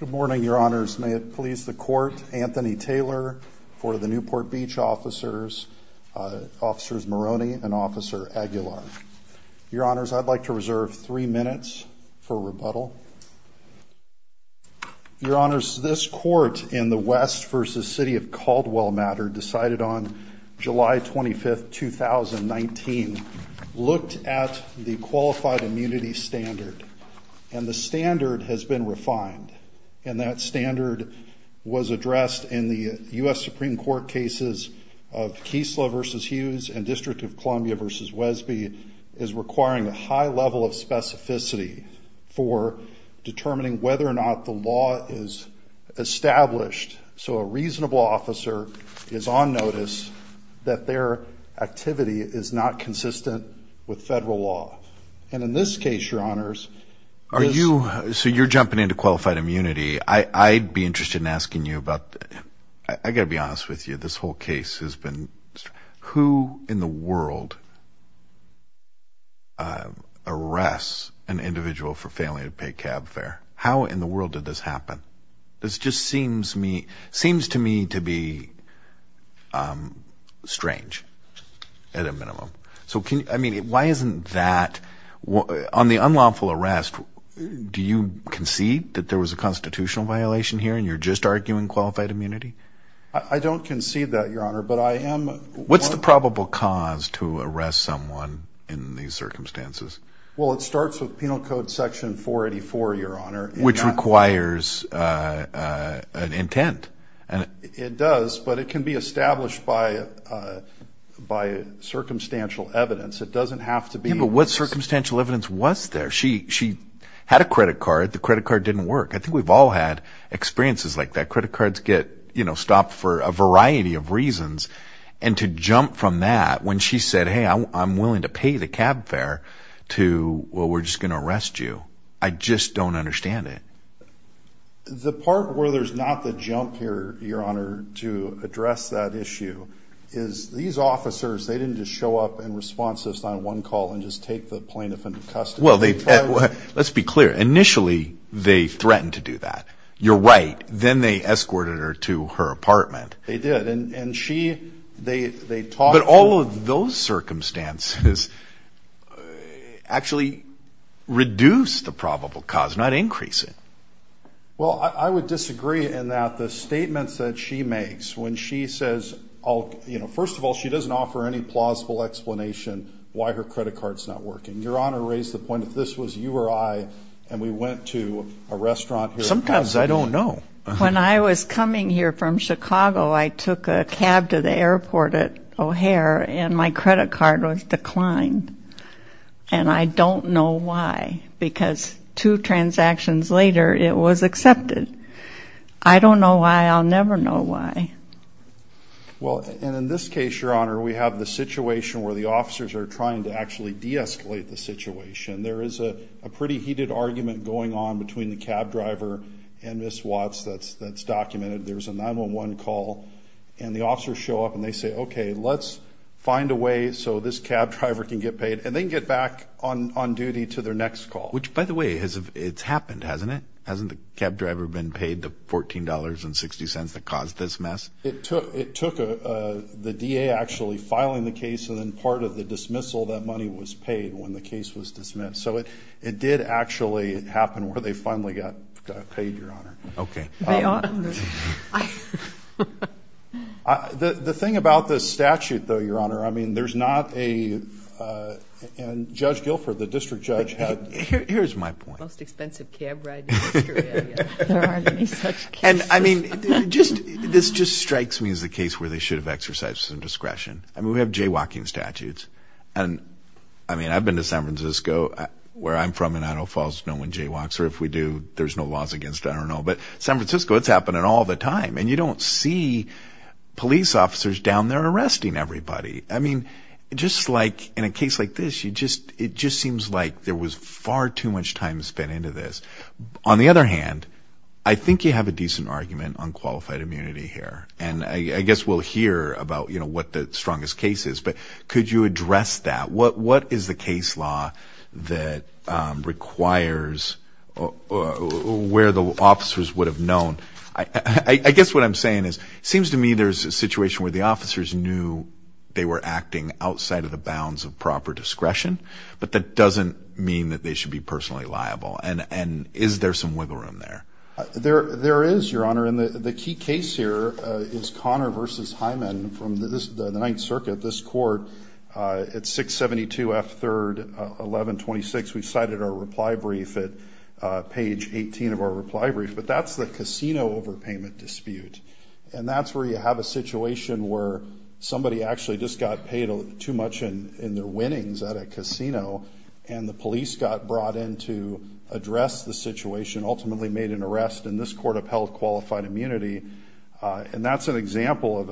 Good morning, Your Honors. May it please the Court, Anthony Taylor for the Newport Beach officers, Officers Maroney and Officer Aguilar. Your Honors, I'd like to reserve three minutes for rebuttal. Your Honors, this Court in the West v. City of Caldwell matter decided on July 25th, 2019, looked at the qualified immunity standard and the standard has been refined and that standard was addressed in the U.S. Supreme Court cases of Keesler v. Hughes and District of Columbia v. Wesby is requiring a high level of specificity for determining whether or not the law is established so a reasonable officer is on notice that their activity is not consistent with federal law. And in this case, Your Honors... Are you... so you're jumping into qualified immunity. I'd be interested in asking you about... I gotta be honest with you, this whole case has been... who in the world arrests an individual for failing to pay cab fare? How in the world did this happen? This just seems to me to be strange at a minimum. So can you... I mean why isn't that... on the unlawful arrest, do you concede that there was a constitutional violation here and you're just arguing qualified immunity? I don't concede that, Your Honor, but I am... What's the probable cause to arrest someone in these circumstances? Well, it starts with Penal Code Section 484, Your Honor. Which requires an intent. It does, but it can be established by circumstantial evidence. It doesn't have to be... Yeah, but what circumstantial evidence was there? She had a credit card. The credit card didn't work. I think we've all had experiences like that. Credit cards get, you know, stopped for a variety of reasons and to jump from that when she said, hey, I'm willing to pay the cab fare to, well, we're just going to arrest you. I just don't understand it. The part where there's not the jump here, Your Honor, to address that issue is these officers, they didn't just show up and respond to this on one call and just take the plaintiff into custody. Well, let's be clear. Initially, they threatened to do that. You're right. Then they escorted her to her apartment. They did and she, they circumstances actually reduced the probable cause, not increase it. Well, I would disagree in that the statements that she makes when she says, you know, first of all, she doesn't offer any plausible explanation why her credit card's not working. Your Honor raised the point that this was you or I and we went to a restaurant. Sometimes I don't know. When I was coming here from Chicago, I credit card was declined and I don't know why because two transactions later it was accepted. I don't know why. I'll never know why. Well, and in this case, Your Honor, we have the situation where the officers are trying to actually de-escalate the situation. There is a pretty heated argument going on between the cab driver and Ms. Watts that's that's documented. There's a 911 call and the officers show up and they say, okay, let's find a way so this cab driver can get paid and then get back on duty to their next call. Which, by the way, it's happened, hasn't it? Hasn't the cab driver been paid the $14.60 that caused this mess? It took the DA actually filing the case and then part of the dismissal, that money was paid when the case was dismissed. So it it did actually happen where they finally got paid, Your Honor. Okay. The thing about this statute, though, Your Honor, I mean there's not a... and Judge Guilford, the district judge, had... Here's my point. The most expensive cab ride in the history of the area. There aren't any such cases. And I mean just this just strikes me as the case where they should have exercised some discretion. I mean we have jaywalking statutes and I mean I've been to San Francisco where I'm from in Idaho Falls knowing jaywalks. Or if we do, there's no laws against it. I don't know. But San Francisco, it's happening all the time and you don't see police officers down there arresting everybody. I mean just like in a case like this, it just seems like there was far too much time spent into this. On the other hand, I think you have a decent argument on qualified immunity here. And I guess we'll hear about, you know, what the strongest case is. But could you address that? What what is the case law that requires where the officers would have known... I guess what I'm saying is seems to me there's a situation where the officers knew they were acting outside of the bounds of proper discretion. But that doesn't mean that they should be personally liable. And is there some wiggle room there? There is, your honor. And the key case here is Connor versus Hyman from the Ninth Circuit. This court at 672 F. 3rd 1126. We cited our reply brief at page 18 of our reply brief. But that's the casino overpayment dispute. And that's where you have a situation where somebody actually just got paid too much in their winnings at a casino. And the police got brought in to address the situation, ultimately made an arrest. And this court upheld qualified immunity. And that's an example of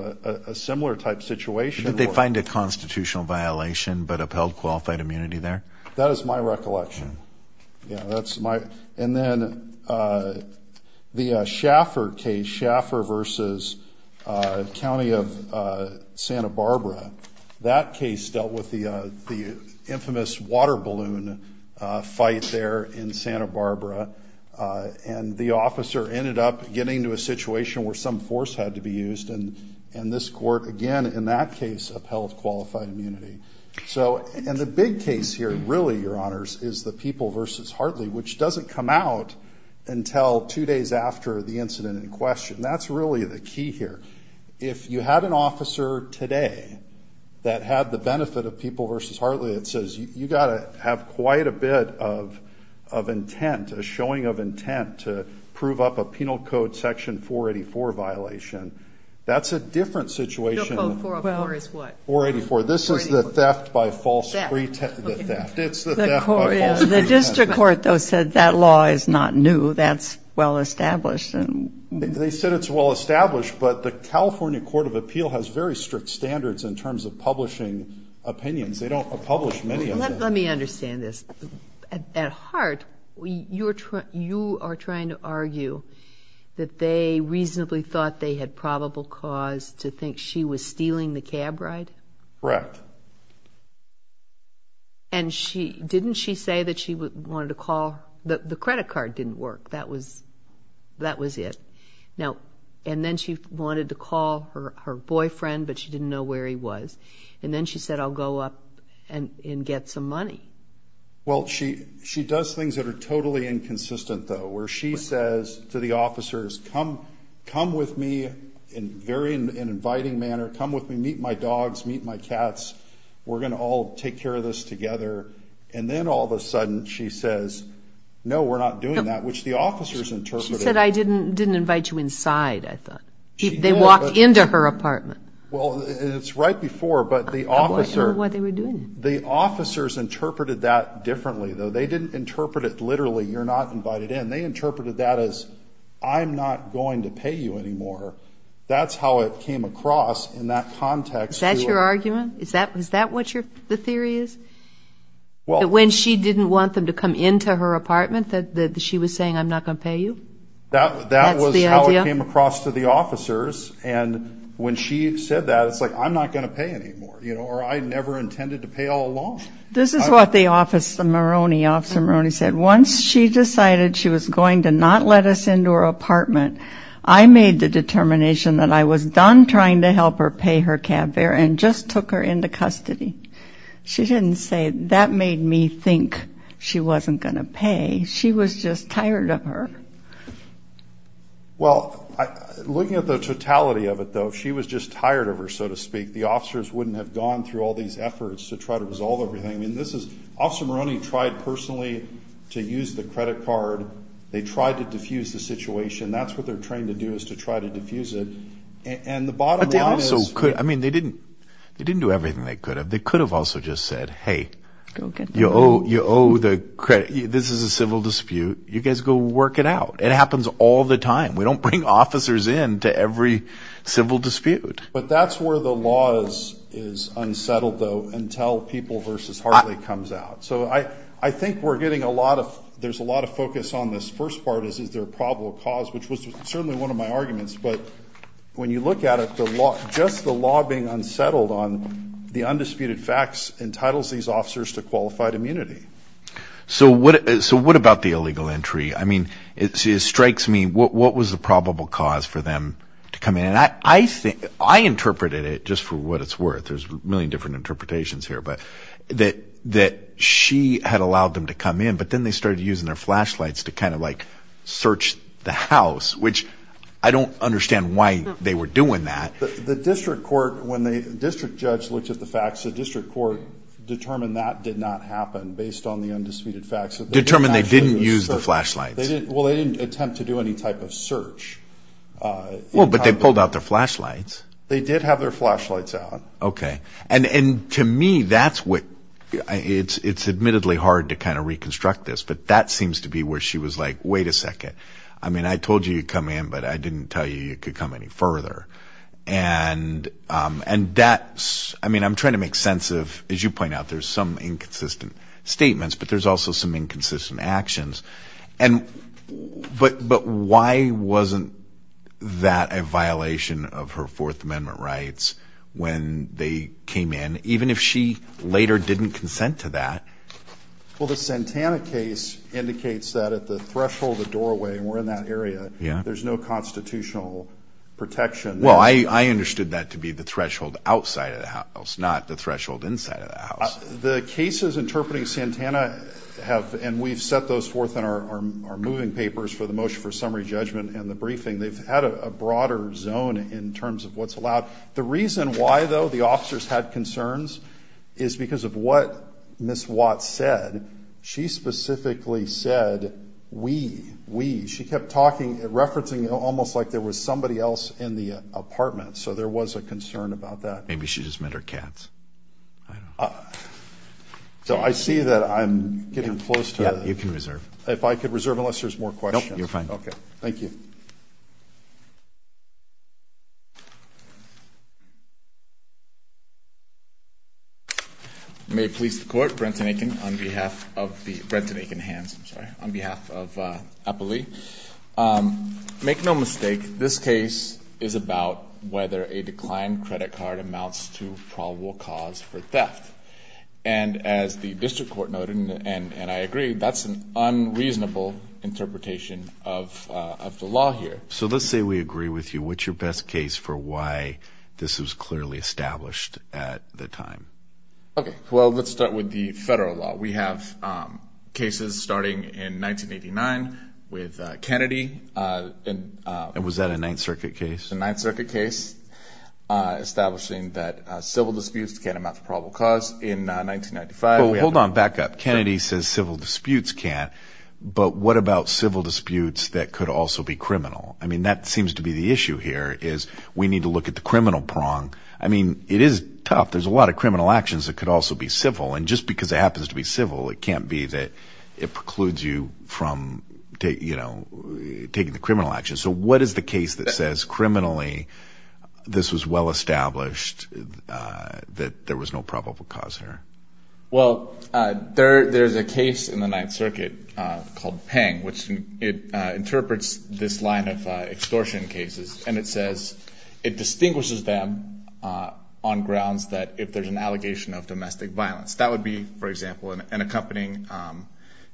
a similar type situation. Did they find a constitutional violation but upheld qualified immunity there? That is my recollection. Yeah, that's my... And then the Schaffer case, Schaffer versus County of Santa Barbara. That case dealt with the infamous water balloon fight there in Santa Barbara. And the officer ended up getting to a situation where some force had to be used. And this court, again, in that case, upheld qualified immunity. So, and the big case here, really, your honors, is the People versus Hartley, which doesn't come out until two days after the incident in question. That's really the key here. If you had an officer today that had the benefit of People versus Hartley that says, you gotta have quite a bit of intent, a showing of intent to prove up a Penal Code Section 484 violation, that's a different situation. 484 is what? 484. This is the theft by false... The theft. It's the theft by false pretense. The district court, though, said that law is not new. That's well established. They said it's well established, but the California Court of Appeal has very strict standards in terms of publishing opinions. They don't publish many of this. At heart, you are trying to argue that they reasonably thought they had probable cause to think she was stealing the cab ride? Correct. And didn't she say that she wanted to call... The credit card didn't work. That was it. Now, and then she wanted to call her boyfriend, but she didn't know where he was. And then she said, I'll go up and get some money. Well, she does things that are totally inconsistent, though, where she says to the officers, come with me in very an inviting manner, come with me, meet my dogs, meet my cats, we're gonna all take care of this together. And then all of a sudden, she says, no, we're not doing that, which the officers interpreted... She said, I didn't invite you inside, I thought. They walked into her apartment. Well, it's right before, but the officer... I'm not sure what they were doing. The officers interpreted that differently, though. They didn't interpret it literally, you're not invited in. They interpreted that as, I'm not going to pay you anymore. That's how it came across in that context. Is that your argument? Is that what the theory is? Well... That when she didn't want them to come into her apartment that she was saying, I'm not gonna pay you? That's the idea? That was how it came across. When she said that, it's like, I'm not gonna pay anymore, or I never intended to pay all along. This is what the officer Moroney said. Once she decided she was going to not let us into her apartment, I made the determination that I was done trying to help her pay her cab fare and just took her into custody. She didn't say that made me think she wasn't gonna pay, she was just tired of her. Well, looking at the totality of it, though, if she was just tired of her, so to speak, the officers wouldn't have gone through all these efforts to try to resolve everything. Officer Moroney tried personally to use the credit card. They tried to diffuse the situation. That's what they're trained to do, is to try to diffuse it. And the bottom line is... But they also could... They didn't do everything they could have. They could have also just said, hey, you owe the credit. This is a civil dispute. You guys go work it out. It happens all the time. We don't bring officers in to every civil dispute. But that's where the law is unsettled, though, until People v. Hartley comes out. So I think we're getting a lot of... There's a lot of focus on this first part, is there a probable cause, which was certainly one of my arguments. But when you look at it, just the law being unsettled on the undisputed facts entitles these officers to qualified immunity. So what about the illegal entry? It strikes me, what was the probable cause for them to come in? And I interpreted it, just for what it's worth, there's a million different interpretations here, that she had allowed them to come in, but then they started using their flashlights to kind of like search the house, which I don't understand why they were doing that. The district court, when the district judge looked at the on the undisputed facts... Determined they didn't use the flashlights. Well, they didn't attempt to do any type of search. But they pulled out their flashlights. They did have their flashlights out. Okay. And to me, that's what... It's admittedly hard to kind of reconstruct this, but that seems to be where she was like, wait a second. I told you you'd come in, but I didn't tell you you could come any further. And that's... I'm trying to make sense of, as you point out, there's some inconsistent statements, but there's also some inconsistent actions. And... But why wasn't that a violation of her Fourth Amendment rights when they came in, even if she later didn't consent to that? Well, the Santana case indicates that at the threshold of the doorway, and we're in that area, there's no constitutional protection. Well, I understood that to be the threshold outside of the house, not the threshold inside of the house. The cases interpreting Santana have... And we've set those forth in our moving papers for the motion for summary judgment and the briefing. They've had a broader zone in terms of what's allowed. The reason why, though, the officers had concerns is because of what Ms. Watts said. She specifically said, we, we. She kept talking, referencing almost like there was somebody else in the apartment. So there was a concern about that. Maybe she just had her cats. So I see that I'm getting close to... Yeah, you can reserve. If I could reserve unless there's more questions. Nope, you're fine. Okay. Thank you. May it please the court, Brenton Aiken on behalf of the... Brenton Aiken hands, I'm sorry, on behalf of Eppley. Make no mistake, this case is about whether a declined credit card amounts to probable cause for theft. And as the district court noted, and I agree, that's an unreasonable interpretation of the law here. So let's say we agree with you. What's your best case for why this was clearly established at the time? Okay, well, let's start with the federal law. We have cases starting in 1989 with Kennedy. And was that a Ninth Circuit case? The Ninth Circuit case, establishing that civil disputes can't amount to probable cause. In 1995... Well, hold on, back up. Kennedy says civil disputes can't, but what about civil disputes that could also be criminal? I mean, that seems to be the issue here is we need to look at the criminal prong. I mean, it is tough. There's a lot of criminal actions that could also be civil. And just because it happens to be civil, it can't be that it precludes you from taking the criminal action. So what is the case that says criminally, this was well established, that there was no probable cause here? Well, there's a case in the Ninth Circuit called Peng, which it interprets this line of extortion cases. And it says it distinguishes them on grounds that if there's an allegation of domestic violence, that would be, for example, an accompanying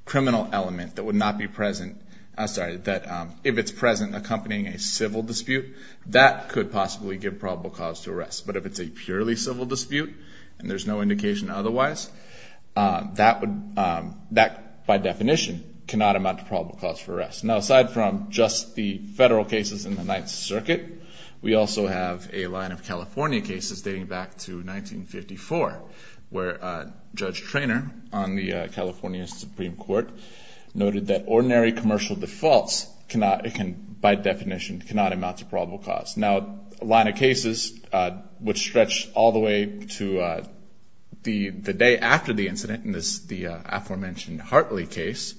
criminal element that would not be present... I'm sorry, that if it's present accompanying a civil dispute, that could possibly give probable cause to arrest. But if it's a purely civil dispute and there's no indication otherwise, that by definition cannot amount to probable cause for arrest. Now, aside from just the federal cases in the California cases dating back to 1954, where Judge Treanor on the California Supreme Court noted that ordinary commercial defaults cannot, by definition, cannot amount to probable cause. Now, a line of cases which stretch all the way to the day after the incident in this, the aforementioned Hartley case,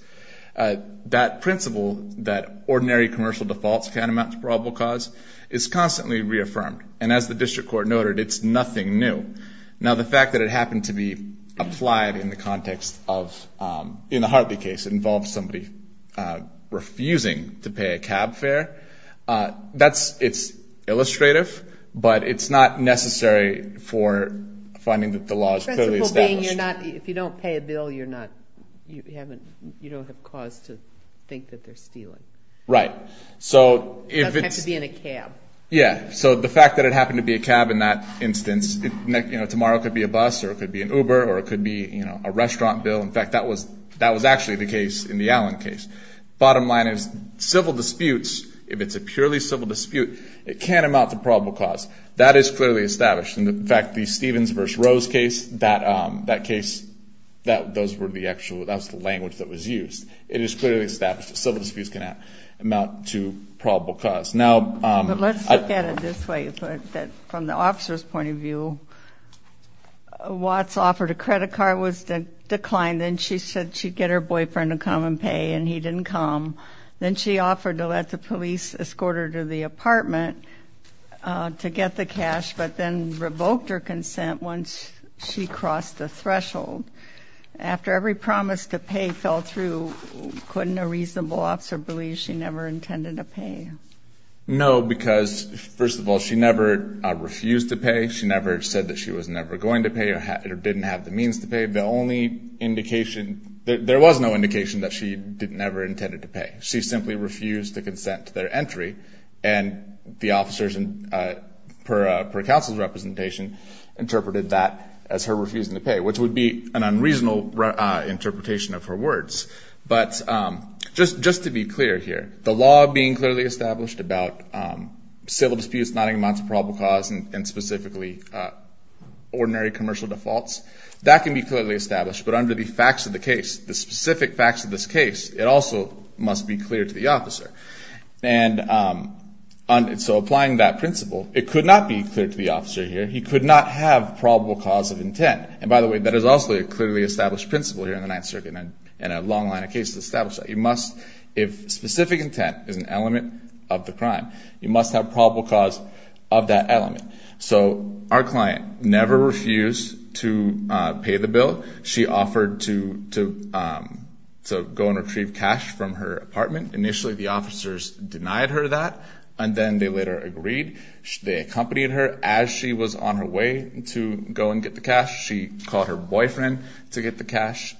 that principle that ordinary commercial defaults can't amount to probable cause, the district court noted, it's nothing new. Now, the fact that it happened to be applied in the context of, in the Hartley case, it involves somebody refusing to pay a cab fare. It's illustrative, but it's not necessary for finding that the law is clearly established. The principle being, if you don't pay a bill, you don't have cause to think that they're stealing. Right. So if it's... It doesn't have to be in a cab. Yeah. So the fact that it happened to be a cab in that instance, tomorrow it could be a bus, or it could be an Uber, or it could be a restaurant bill. In fact, that was actually the case in the Allen case. Bottom line is, civil disputes, if it's a purely civil dispute, it can amount to probable cause. That is clearly established. In fact, the Stevens v. Rose case, that case, those were the actual... That was the language that was used. It is clearly established that from the officer's point of view, Watts offered a credit card, was declined, and she said she'd get her boyfriend to come and pay, and he didn't come. Then she offered to let the police escort her to the apartment to get the cash, but then revoked her consent once she crossed the threshold. After every promise to pay fell through, couldn't a reasonable officer believe she never intended to pay? First of all, she never refused to pay. She never said that she was never going to pay, or didn't have the means to pay. The only indication... There was no indication that she never intended to pay. She simply refused to consent to their entry, and the officers, per counsel's representation, interpreted that as her refusing to pay, which would be an unreasonable interpretation of her words. But just to be clear here, the law being clearly established about civil disputes, not amounts of probable cause, and specifically ordinary commercial defaults, that can be clearly established. But under the facts of the case, the specific facts of this case, it also must be clear to the officer. And so applying that principle, it could not be clear to the officer here. He could not have probable cause of intent. And by the way, that is also a clearly established principle here in the Ninth Circuit, and a long line of cases establish that. You must, if specific intent is an element of the crime, you must have probable cause of that element. So our client never refused to pay the bill. She offered to go and retrieve cash from her apartment. Initially the officers denied her that, and then they later agreed. They accompanied her as she was on her way to go and get the cash. She called her boyfriend to get the cash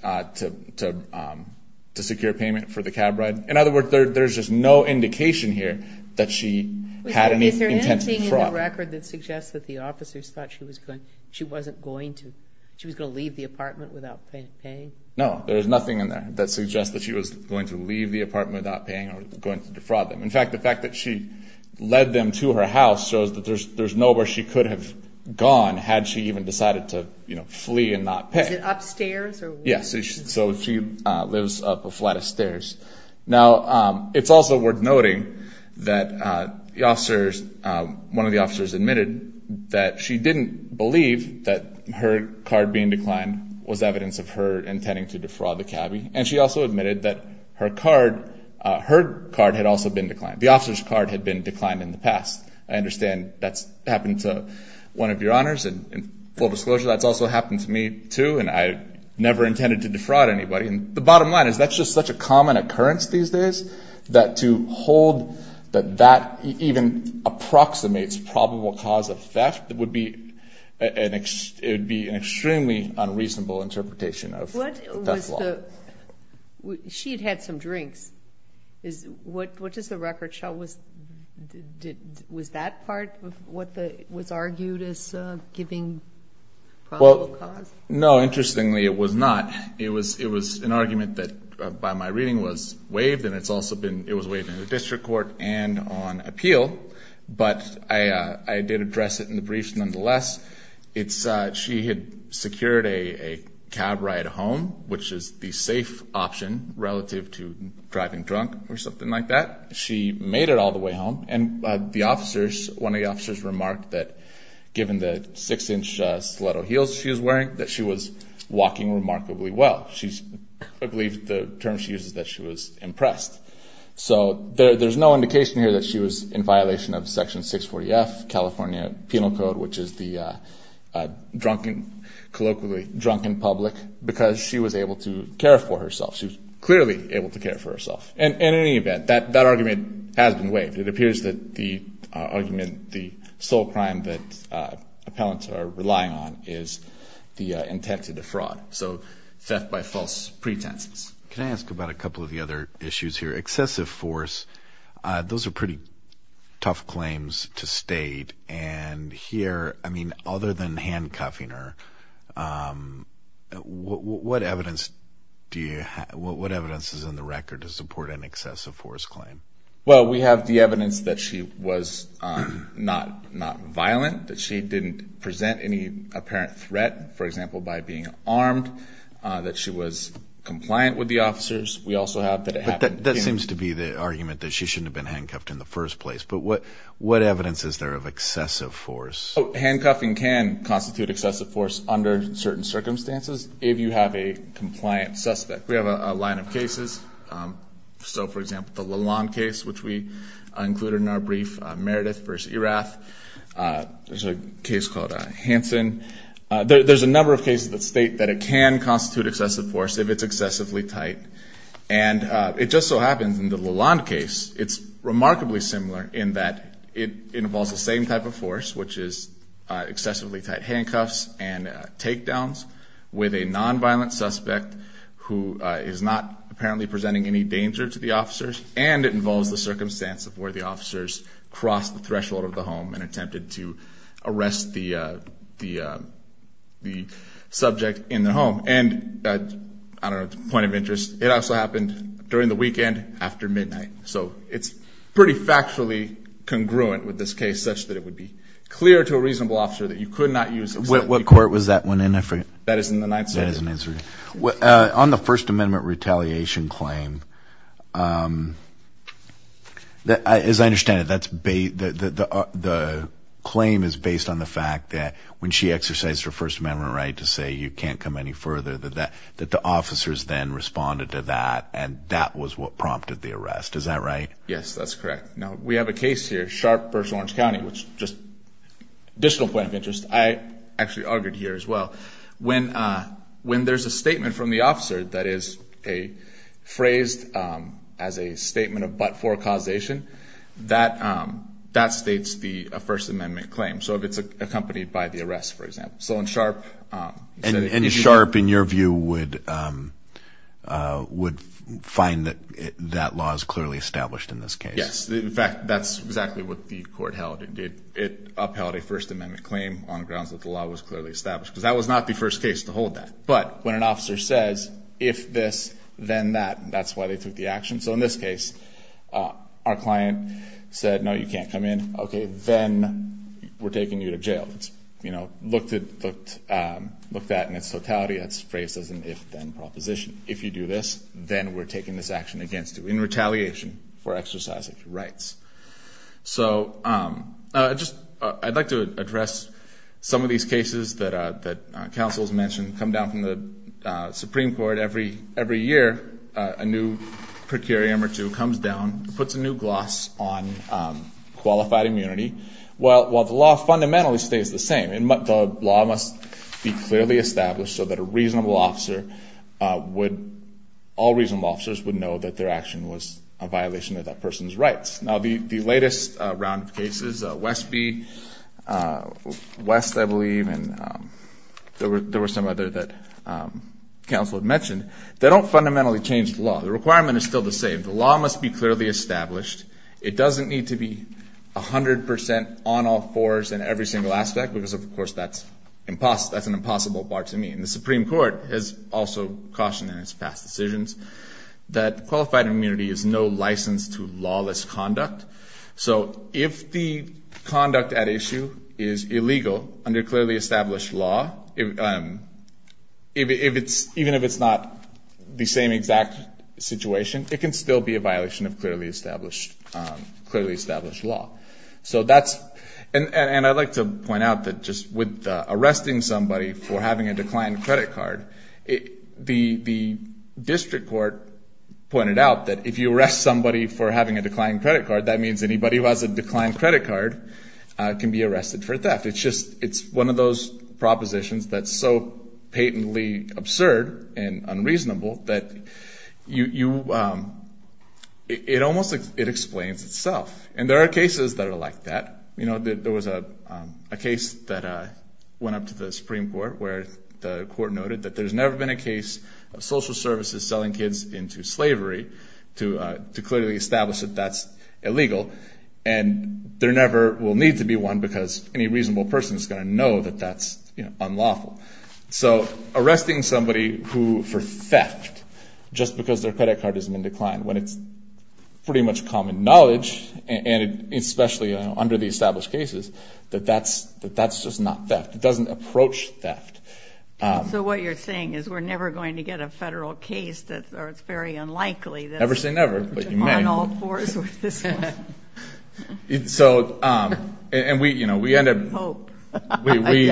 to secure payment for the cab ride. In other words, there's just no indication here that she had any intent to defraud. Is there anything in the record that suggests that the officers thought she was going, she wasn't going to, she was going to leave the apartment without paying? No, there's nothing in there that suggests that she was going to leave the apartment without paying or going to defraud them. In fact, the fact that she led them to her house shows that there's nowhere she could have gone had she even decided to, you know, flee and not pay. Is it upstairs? Yes, so she lives up a flat of stairs. Now it's also worth noting that the officers, one of the officers admitted that she didn't believe that her card being declined was evidence of her intending to defraud the cabbie, and she also admitted that her card, her card had also been declined. The officer's card had been declined in the past. I understand that's happened to one of your honors, and full disclosure that's also happened to me too, and I never intended to defraud anybody, and the bottom line is that's just such a common occurrence these days, that to hold that that even approximates probable cause of theft, that would be an, it would be an extremely unreasonable interpretation of death law. What was the, she had had some drinks, is what does the record show was, was that part of what was argued as giving probable cause? Well, no, interestingly it was not. It was, it was an argument that by my reading was waived, and it's also been, it was waived in the district court and on appeal, but I did address it in the briefs nonetheless. It's, she had secured a cab ride home, which is the safe option relative to driving drunk or something like that. She made it all the way home, and the officers, one of the officers remarked that given the six-inch stiletto heels she was wearing, that she was walking remarkably well. She's, I believe the term she uses, that she was impressed. So there's no indication here that she was in violation of Section 640-F California Penal Code, which is the drunken, colloquially, drunken public, because she was able to care for herself. She was clearly able to care for herself, and in any event, that, that argument has been waived. It appears that the argument, the sole crime that appellants are relying on is the intent to defraud. So theft by false pretenses. Can I ask about a couple of the other issues here? Excessive force, those are pretty tough claims to state, and here, I mean, other than handcuffing her, what evidence do you have, what evidence is in the record, an excessive force claim? Well, we have the evidence that she was not, not violent, that she didn't present any apparent threat, for example, by being armed, that she was compliant with the officers. We also have that it happened... That seems to be the argument that she shouldn't have been handcuffed in the first place, but what, what evidence is there of excessive force? Oh, handcuffing can constitute excessive force under certain circumstances, if you have a So, for example, the Lalonde case, which we included in our brief, Meredith versus Erath. There's a case called Hansen. There's a number of cases that state that it can constitute excessive force if it's excessively tight, and it just so happens in the Lalonde case, it's remarkably similar in that it involves the same type of force, which is excessively tight handcuffs and takedowns with a nonviolent suspect who is not apparently presenting any danger to the officers, and it involves the circumstance of where the officers crossed the threshold of the home and attempted to arrest the, the, the subject in the home, and, I don't know, point of interest, it also happened during the weekend after midnight, so it's pretty factually congruent with this case, such that it would be clear to a reasonable officer that you could not use... What court was that one in, I forget? That is in the Ninth Circuit. On the First Amendment retaliation claim, as I understand it, that's based, the claim is based on the fact that when she exercised her First Amendment right to say you can't come any further than that, that the officers then responded to that, and that was what prompted the arrest, is that right? Yes, that's correct. Now, we have a case here, Sharp versus Orange County, which just, additional point of here as well, when, when there's a statement from the officer that is a phrased as a statement of but-for causation, that, that states the First Amendment claim, so if it's accompanied by the arrest, for example, so in Sharp... And Sharp, in your view, would, would find that that law is clearly established in this case? Yes, in fact, that's exactly what the court held. It upheld a law was clearly established, because that was not the first case to hold that, but when an officer says, if this, then that, that's why they took the action. So in this case, our client said, no, you can't come in. Okay, then we're taking you to jail. It's, you know, looked at, looked, looked at in its totality, that's phrased as an if-then proposition. If you do this, then we're taking this action against you in retaliation for exercising your rights. So, just, I'd like to address some of these cases that, that counsel's mentioned, come down from the Supreme Court every, every year, a new per curiam or two comes down, puts a new gloss on qualified immunity. Well, while the law fundamentally stays the same, and the law must be clearly established so that a reasonable officer would, all reasonable officers would know that their action was a violation of that person's rights. Now, the, the latest round of cases, Westby, West, I believe, and there were, there were some other that counsel had mentioned, they don't fundamentally change the law. The requirement is still the same. The law must be clearly established. It doesn't need to be 100% on all fours in every single aspect, because, of course, that's impossible, that's an impossible bar to meet. And the Supreme Court has also cautioned in its past decisions that qualified immunity is no license to lawless conduct. So, if the conduct at issue is illegal under clearly established law, if, if it's, even if it's not the same exact situation, it can still be a violation of clearly established, clearly established law. So that's, and, and I'd like to point out that just with arresting somebody for having a declined credit card, it, the, the district court pointed out that if you arrest somebody for having a declined credit card, that means anybody who has a declined credit card can be arrested for theft. It's just, it's one of those propositions that's so patently absurd and unreasonable that you, you, it, it almost, it explains itself. And there are cases that are like that. You know, there, there was a, a case that went up to the Supreme Court where the court noted that there's never been a case of social services selling kids into slavery to, to clearly establish that that's illegal. And there never will need to be one because any reasonable person is going to know that that's, you know, unlawful. So, arresting somebody who, for theft, just because their credit card has been declined, when it's pretty much common knowledge, and, and it, especially under the established cases, that that's, that that's just not theft. It doesn't approach theft. So what you're saying is we're never going to get a federal case that's, or unlikely. Never say never, but you may. On all fours with this one. So, and we, you know, we end up. Hope. We, we,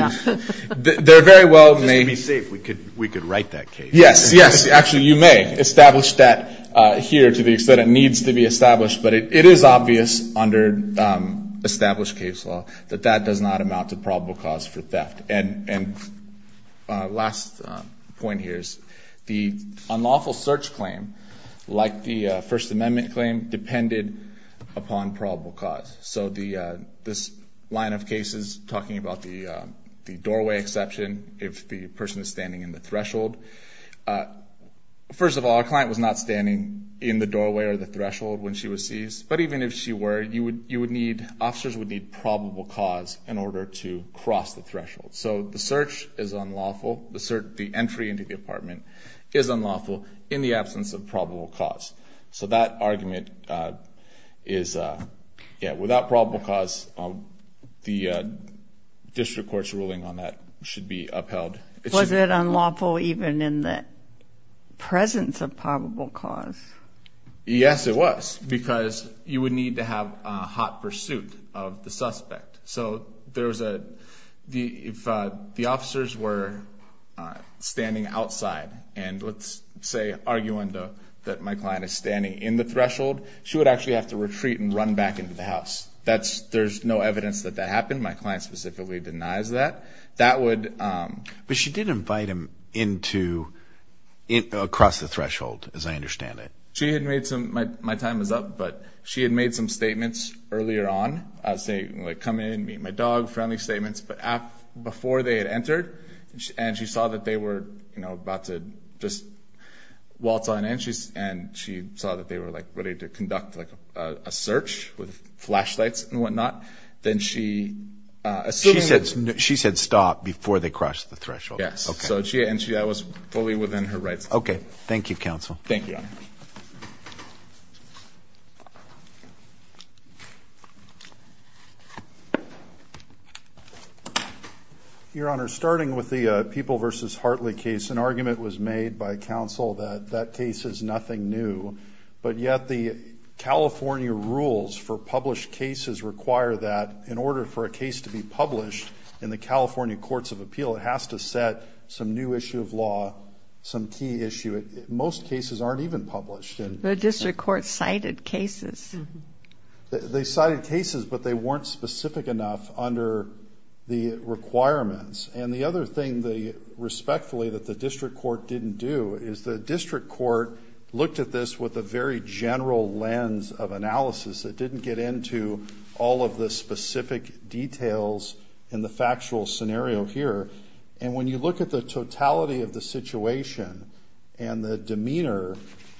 they're very well made. Just to be safe, we could, we could write that case. Yes, yes. Actually, you may establish that here to the extent it needs to be established. But it is obvious under established case law that that does not amount to like the First Amendment claim, depended upon probable cause. So the, this line of cases, talking about the, the doorway exception, if the person is standing in the threshold. First of all, a client was not standing in the doorway or the threshold when she was seized. But even if she were, you would, you would need, officers would need probable cause in order to cross the threshold. So the search is unlawful. The search, the entry into the apartment is unlawful in the absence of probable cause. So that argument is, yeah, without probable cause, the district court's ruling on that should be upheld. Was it unlawful even in the presence of probable cause? Yes, it was. Because you would need to have a hot pursuit of the argument that my client is standing in the threshold. She would actually have to retreat and run back into the house. That's, there's no evidence that that happened. My client specifically denies that. That would. But she did invite him into, across the threshold, as I understand it. She had made some, my time is up, but she had made some statements earlier on. I was saying, like, come in, meet my dog, friendly statements. But before they had entered, and she saw that they were, you know, about to just, waltz on in, and she saw that they were, like, ready to conduct, like, a search with flashlights and whatnot. Then she. She said stop before they crossed the threshold. Yes. So she, and she, that was fully within her rights. Okay. Thank you, counsel. Thank you. Your Honor, starting with the People v. Hartley case, an argument was made by counsel that that case is nothing new. But yet the California rules for published cases require that in order for a case to be published in the California Courts of Appeal, it has to set some new issue of law, some key issue. Most cases aren't even published. The district court cited cases. They cited cases, but they weren't specific enough under the requirements. And the other thing, respectfully, that the district court didn't do is the district court looked at this with a very general lens of analysis. It didn't get into all of the specific details in the factual scenario here. And when you look at the totality of the situation and the demeanor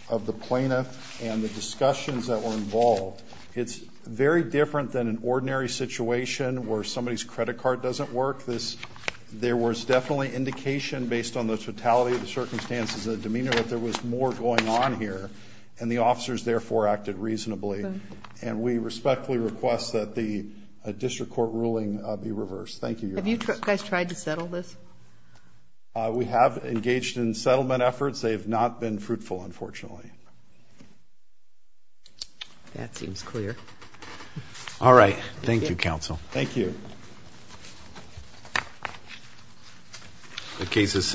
of the plaintiff and the discussions that were involved, it's very different than an ordinary situation where somebody's credit card doesn't work. This, there was definitely indication based on the totality of the circumstances of the demeanor that there was more going on here, and the officers therefore acted reasonably. And we respectfully request that the district court ruling be reversed. Thank you. Have you guys tried to settle this? We have engaged in settlement efforts. They have not been fruitful, unfortunately. That seems clear. All right. Thank you, counsel. Thank you. The case is